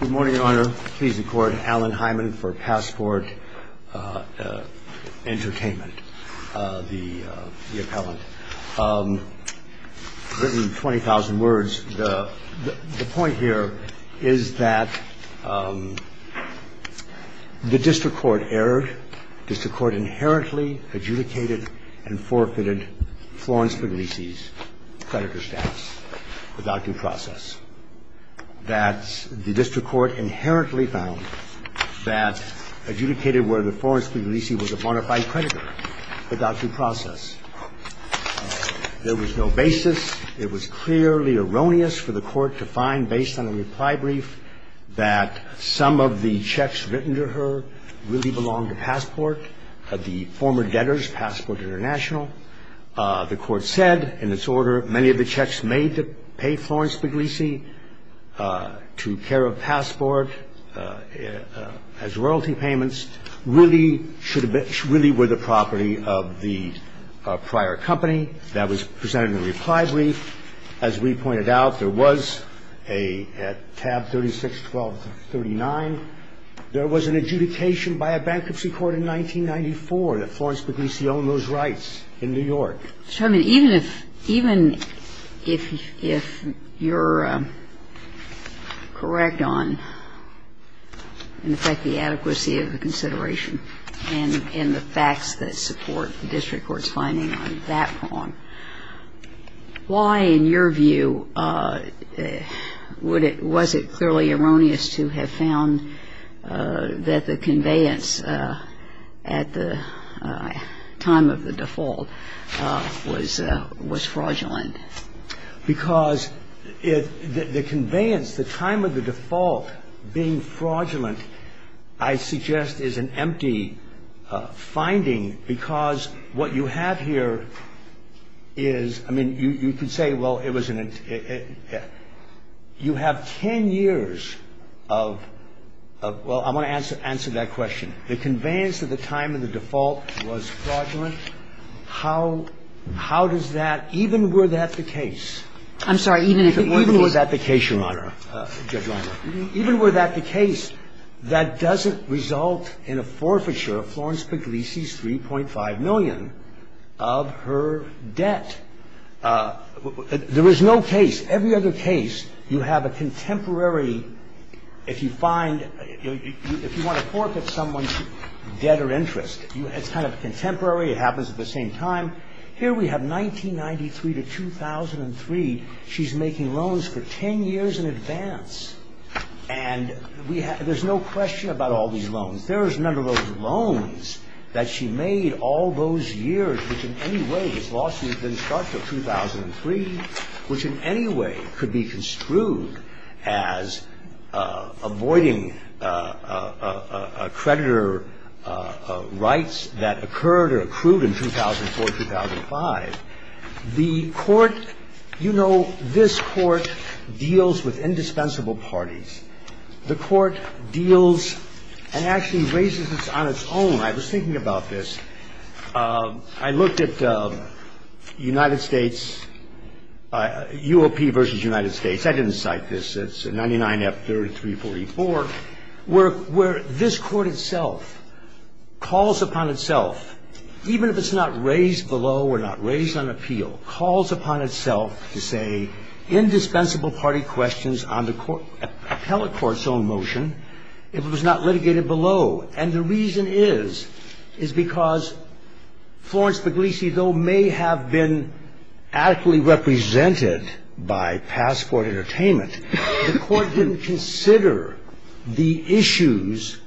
Good morning, Your Honor. Please record Alan Hyman for Passport Entertainment, the appellant. Written in 20,000 words. The point here is that the district court erred. The district court inherently adjudicated and forfeited Florence Puglisi's creditor status without due process. That the district court inherently found that adjudicated whether Florence Puglisi was a bona fide creditor without due process. There was no basis. It was clearly erroneous for the court to find based on a reply brief that some of the checks written to her really belonged to Passport, the former debtors, Passport International. The court said in its order many of the checks made to pay Florence Puglisi to care of Passport as royalty payments really were the property of the prior company. That was presented in a reply brief. As we pointed out, there was a tab 36-12-39. There was an adjudication by a bankruptcy court in 1994 that Florence Puglisi owned those rights in New York. Even if you're correct on, in effect, the adequacy of the consideration and the facts that support the district court's finding on that prong, Why, in your view, would it, was it clearly erroneous to have found that the conveyance at the time of the default was fraudulent? Because the conveyance, the time of the default being fraudulent, I suggest, is an empty finding because what you have here is, I mean, you can say, well, it was an You have 10 years of, well, I'm going to answer that question. The conveyance at the time of the default was fraudulent. How, how does that, even were that the case? I'm sorry, even if it were the case. Even were that the case, Your Honor, Judge Reinert. Even were that the case, that doesn't result in a forfeiture of Florence Puglisi's 3.5 million of her debt. There is no case. Every other case, you have a contemporary, if you find, if you want to forfeit someone's debt or interest, it's kind of contemporary. It happens at the same time. Here we have 1993 to 2003. She's making loans for 10 years in advance. And we have, there's no question about all these loans. There is none of those loans that she made all those years, which in any way, this lawsuit didn't start until 2003, which in any way could be construed as avoiding creditor rights that occurred or accrued in 2004, 2005. The Court, you know, this Court deals with indispensable parties. The Court deals and actually raises this on its own. I was thinking about this. I looked at United States, UOP versus United States. I didn't cite this. It's 99F3344, where this Court itself calls upon itself, even if it's not raised below or not raised on appeal, calls upon itself to say indispensable party questions on the appellate court's own motion if it was not litigated below. And the reason is, is because Florence Puglisi, though may have been adequately represented by Passport Entertainment, the Court didn't consider the issues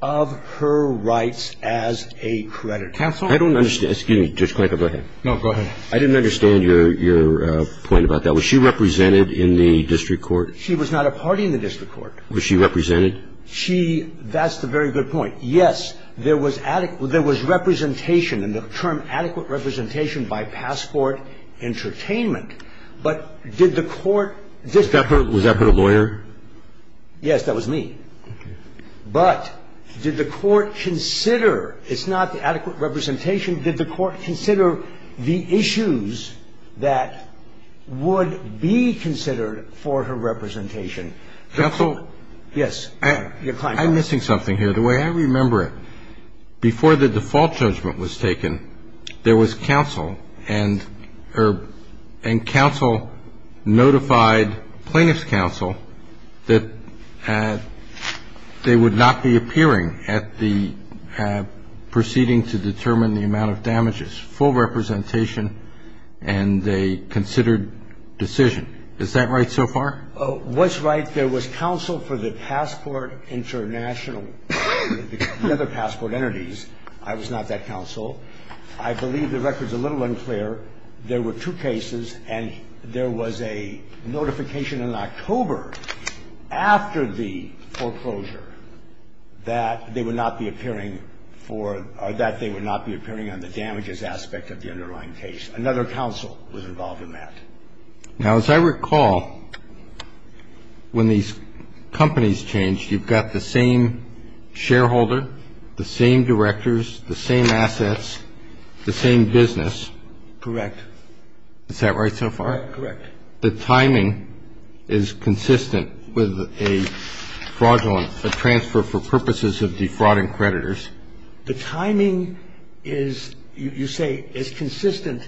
of her rights as a creditor. I don't understand. Excuse me, Justice Klinker, go ahead. No, go ahead. I didn't understand your point about that. Was she represented in the district court? She was not a party in the district court. Was she represented? She ‑‑ that's a very good point. Yes, there was representation, and the term adequate representation by Passport Entertainment. But did the Court ‑‑ Was that her, was that her lawyer? Yes, that was me. Okay. But did the Court consider, it's not the adequate representation, did the Court consider the issues that would be considered for her representation? Counsel? Yes. I'm missing something here. The way I remember it, before the default judgment was taken, there was counsel, and counsel notified plaintiff's counsel that they would not be appearing at the proceeding to determine the amount of damages. Full representation, and they considered decision. Is that right so far? What's right, there was counsel for the Passport International, the other passport entities. I was not that counsel. I believe the record's a little unclear. There were two cases, and there was a notification in October, after the foreclosure, that they would not be appearing for ‑‑ or that they would not be appearing on the damages aspect of the underlying case. Another counsel was involved in that. Now, as I recall, when these companies changed, you've got the same shareholder, the same directors, the same assets, the same business. Correct. Is that right so far? Correct. The timing is consistent with a fraudulent transfer for purposes of defrauding creditors. The timing is, you say, is consistent.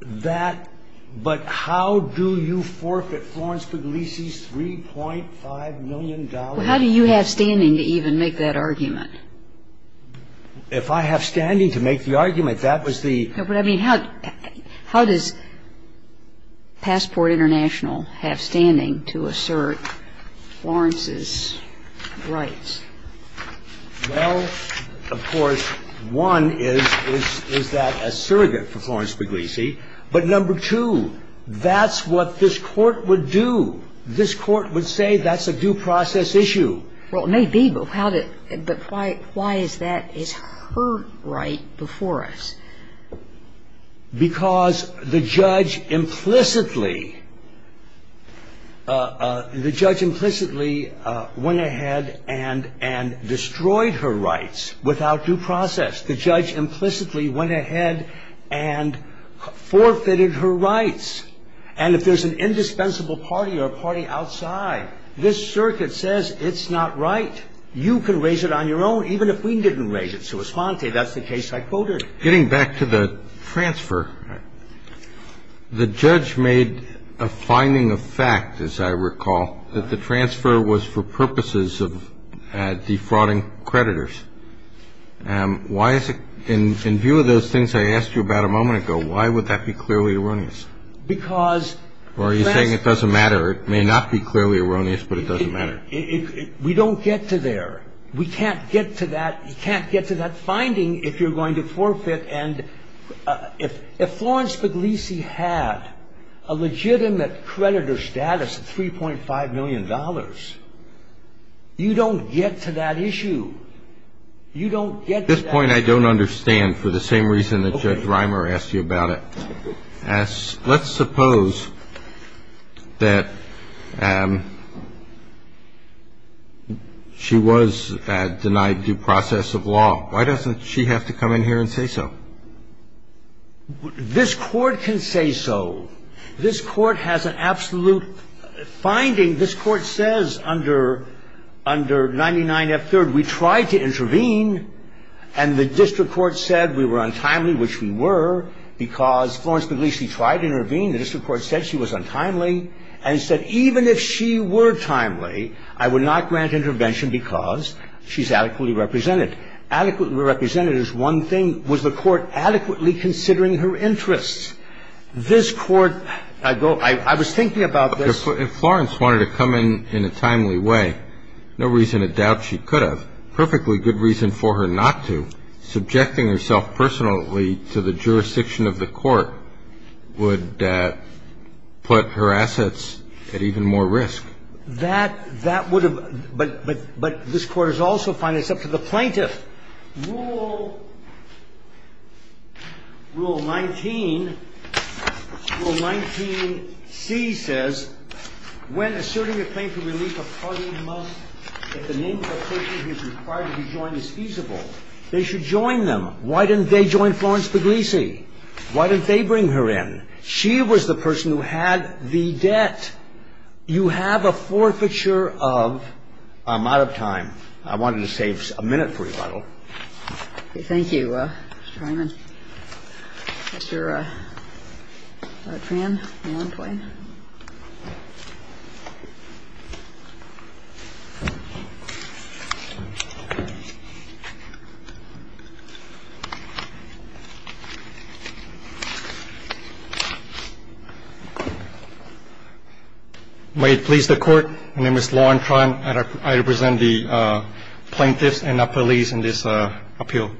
That, but how do you forfeit Florence Puglisi's $3.5 million? How do you have standing to even make that argument? If I have standing to make the argument, that was the ‑‑ But, I mean, how does Passport International have standing to assert Florence's rights? Well, of course, one is, is that a surrogate for Florence Puglisi. But, number two, that's what this Court would do. This Court would say that's a due process issue. Well, it may be, but why is that? It's her right before us. Because the judge implicitly went ahead and destroyed her rights without due process. The judge implicitly went ahead and forfeited her rights. And if there's an indispensable party or a party outside, this circuit says it's not right. You can raise it on your own, even if we didn't raise it. Suis Fonte, that's the case I quoted. Getting back to the transfer, the judge made a finding of fact, as I recall, that the transfer was for purposes of defrauding creditors. Why is it ‑‑ in view of those things I asked you about a moment ago, why would that be clearly erroneous? Because ‑‑ Or are you saying it doesn't matter? It may not be clearly erroneous, but it doesn't matter. We don't get to there. We can't get to that. You can't get to that finding if you're going to forfeit. And if Florence Puglisi had a legitimate creditor status of $3.5 million, you don't get to that issue. You don't get to that issue. At this point, I don't understand for the same reason that Judge Reimer asked you about it. Let's suppose that she was denied due process of law. Why doesn't she have to come in here and say so? This Court can say so. This Court has an absolute finding. This Court says under 99F3rd, we tried to intervene, and the district court said we were untimely, which we were, because Florence Puglisi tried to intervene. The district court said she was untimely, and said even if she were timely, I would not grant intervention because she's adequately represented. Adequately represented is one thing. Was the Court adequately considering her interests? This Court ‑‑ I was thinking about this. If Florence wanted to come in in a timely way, no reason to doubt she could have. Perfectly good reason for her not to. Subjecting herself personally to the jurisdiction of the Court would put her assets at even more risk. That would have ‑‑ but this Court is also finding this up to the plaintiff. Rule 19, rule 19C says, when asserting a claim for relief, a party must, if the name of the person who is required to be joined is feasible, they should join them. Why didn't they join Florence Puglisi? Why didn't they bring her in? She was the person who had the debt. You have a forfeiture of ‑‑ I'm out of time. I wanted to save a minute for rebuttal. Okay. Thank you, Mr. Treiman. Mr. Lautran. May it please the Court, my name is Lautran, and I represent the plaintiffs and the police in this appeal.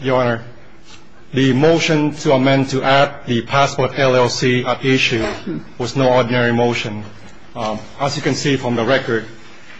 Your Honor, the motion to amend to add the possible affiliation of Florence Puglisi to Florence Puglisi was no ordinary motion. As you can see from the record,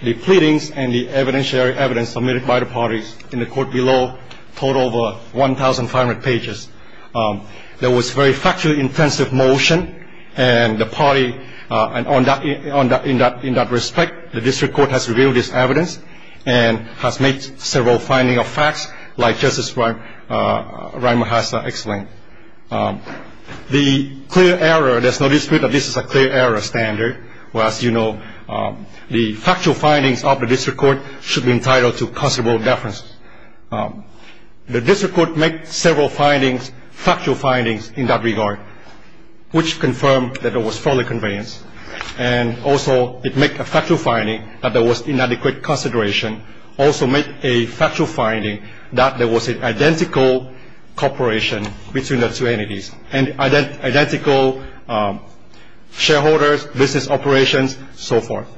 the pleadings and the evidentiary evidence submitted by the parties in the court below totaled over 1,500 pages. There was very factually intensive motion, and the party, and in that respect, the district court has revealed this evidence and has made several findings of facts like Justice Ryan Mahassa explained. The clear error, there's no dispute that this is a clear error standard. As you know, the factual findings of the district court should be entitled to considerable deference. The district court made several findings, factual findings in that regard, which confirmed that it was fully conveyance, and also it made a factual finding that there was inadequate consideration, also made a factual finding that there was an identical corporation between the two entities, and identical shareholders, business operations, so forth.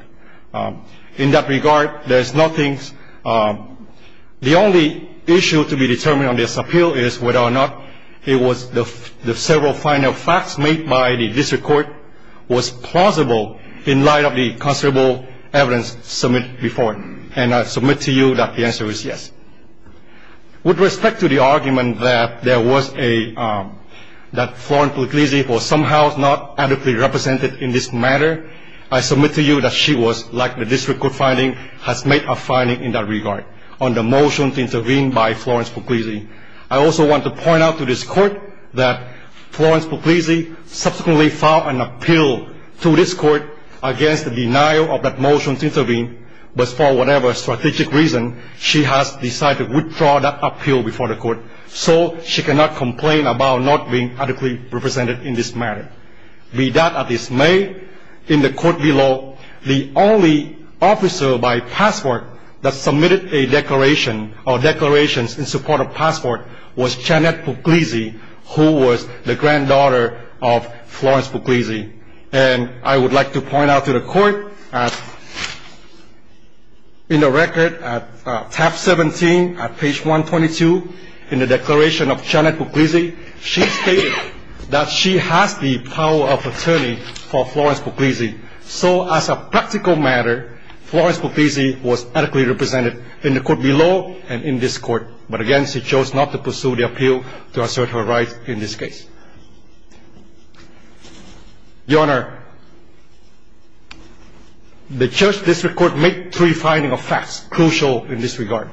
In that regard, there's nothing, the only issue to be determined on this appeal is whether or not it was the several final facts made by the district court was plausible in light of the considerable evidence submitted before. And I submit to you that the answer is yes. With respect to the argument that there was a, that Florence Puglisi was somehow not adequately represented in this matter, I submit to you that she was, like the district court finding, has made a finding in that regard on the motion to intervene by Florence Puglisi. I also want to point out to this Court that Florence Puglisi subsequently filed an appeal to this Court against the denial of that motion to intervene, but for whatever strategic reason, she has decided to withdraw that appeal before the Court, so she cannot complain about not being adequately represented in this matter. Be that as it may, in the Court below, the only officer by passport that submitted a declaration or declarations in support of passport was Janet Puglisi, who was the granddaughter of Florence Puglisi. And I would like to point out to the Court that in the record at tab 17, at page 122, in the declaration of Janet Puglisi, she stated that she has the power of attorney for Florence Puglisi. So as a practical matter, Florence Puglisi was adequately represented in the Court below and in this Court. But again, she chose not to pursue the appeal to assert her right in this case. Your Honor, the Church District Court made three findings of facts crucial in this regard.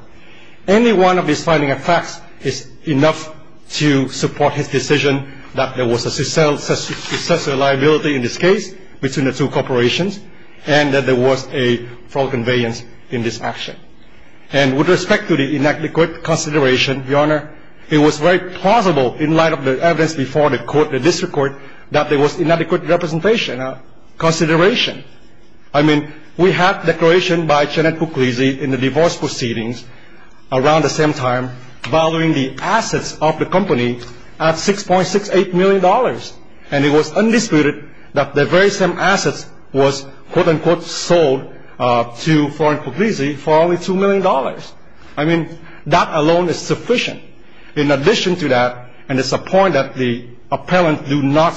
Any one of these findings of facts is enough to support his decision that there was a successor liability in this case between the two corporations and that there was a fraud conveyance in this action. And with respect to the inadequate consideration, Your Honor, it was very plausible in light of the evidence before us before the Court, the District Court, that there was inadequate representation or consideration. I mean, we have declaration by Janet Puglisi in the divorce proceedings around the same time valuing the assets of the company at $6.68 million. And it was undisputed that the very same assets was, quote-unquote, sold to Florence Puglisi for only $2 million. I mean, that alone is sufficient. In addition to that, and it's a point that the appellant do not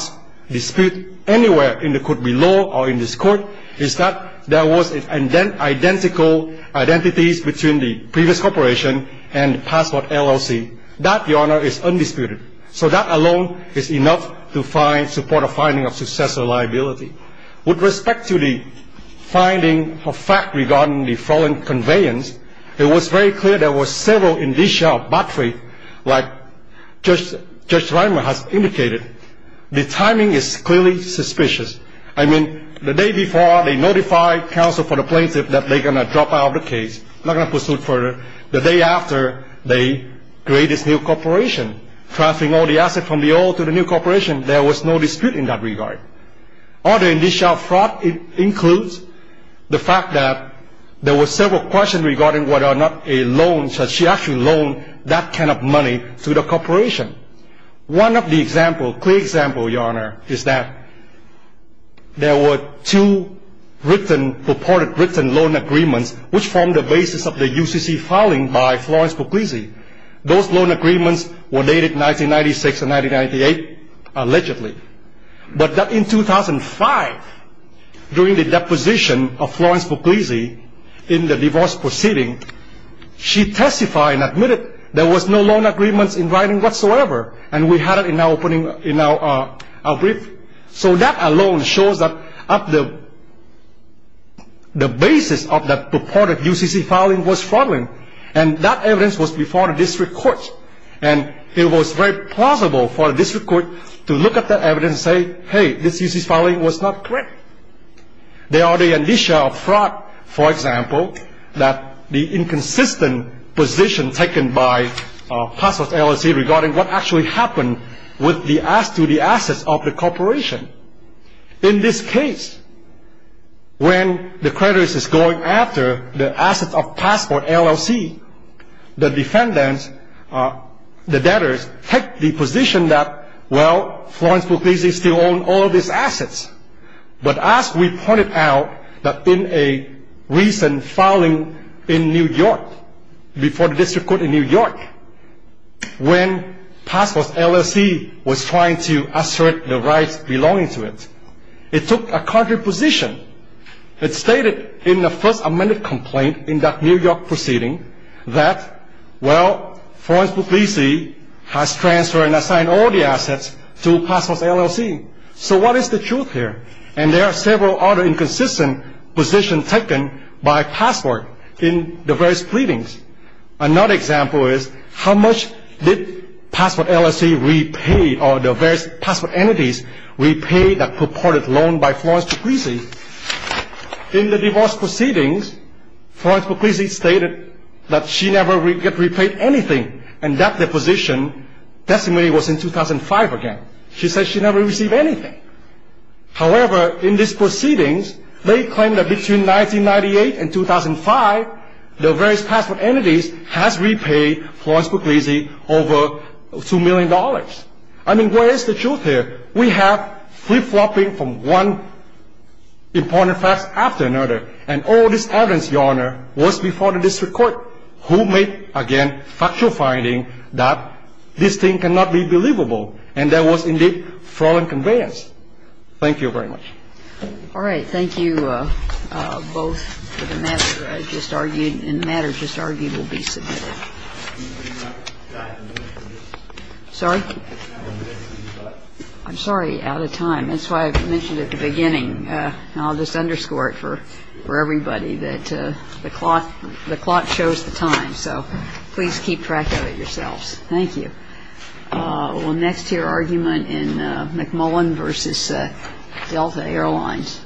dispute anywhere in the Court below or in this Court, is that there was identical identities between the previous corporation and the passport LLC. That, Your Honor, is undisputed. So that alone is enough to support a finding of successor liability. With respect to the finding of fact regarding the fraud conveyance, it was very clear there were several indicia of bad faith, like Judge Reimer has indicated. The timing is clearly suspicious. I mean, the day before, they notified counsel for the plaintiff that they're going to drop out of the case, not going to pursue it further. The day after, they create this new corporation, transferring all the assets from the old to the new corporation. There was no dispute in that regard. Other indicia of fraud includes the fact that there were several questions regarding whether or not a loan, should she actually loan that kind of money to the corporation. One of the examples, clear example, Your Honor, is that there were two purported written loan agreements which formed the basis of the UCC filing by Florence Puglisi. Those loan agreements were dated 1996 and 1998, allegedly. But in 2005, during the deposition of Florence Puglisi in the divorce proceeding, she testified and admitted there was no loan agreements in writing whatsoever. And we had it in our brief. So that alone shows that the basis of the purported UCC filing was fraudulent. And that evidence was before the district court. And it was very plausible for the district court to look at that evidence and say, hey, this UCC filing was not correct. There are the indicia of fraud, for example, that the inconsistent position taken by Passport LLC regarding what actually happened to the assets of the corporation. In this case, when the creditor is going after the assets of Passport LLC, the defendants, the debtors, take the position that, well, Florence Puglisi still owns all of these assets. But as we pointed out that in a recent filing in New York, before the district court in New York, when Passport LLC was trying to assert the rights belonging to it, it took a contrary position. It stated in the first amended complaint in that New York proceeding that, well, Florence Puglisi has transferred and assigned all the assets to Passport LLC. So what is the truth here? And there are several other inconsistent positions taken by Passport in the various pleadings. Another example is how much did Passport LLC repay or the various Passport entities repay that purported loan by Florence Puglisi? In the divorce proceedings, Florence Puglisi stated that she never got repaid anything, and that the position testimony was in 2005 again. She said she never received anything. However, in this proceedings, they claim that between 1998 and 2005, the various Passport entities has repaid Florence Puglisi over $2 million. I mean, what is the truth here? We have flip-flopping from one important fact after another, and all this evidence, Your Honor, was before the district court. Who made, again, factual finding that this thing cannot be believable, and that was indeed fraud and conveyance? Thank you very much. All right. Thank you both for the matter I just argued, and the matter just argued will be submitted. I'm sorry? I'm sorry, out of time. That's why I mentioned at the beginning, and I'll just underscore it for everybody, that the clock shows the time, so please keep track of it yourselves. Thank you. We'll next hear argument in McMullen v. Delta Airlines.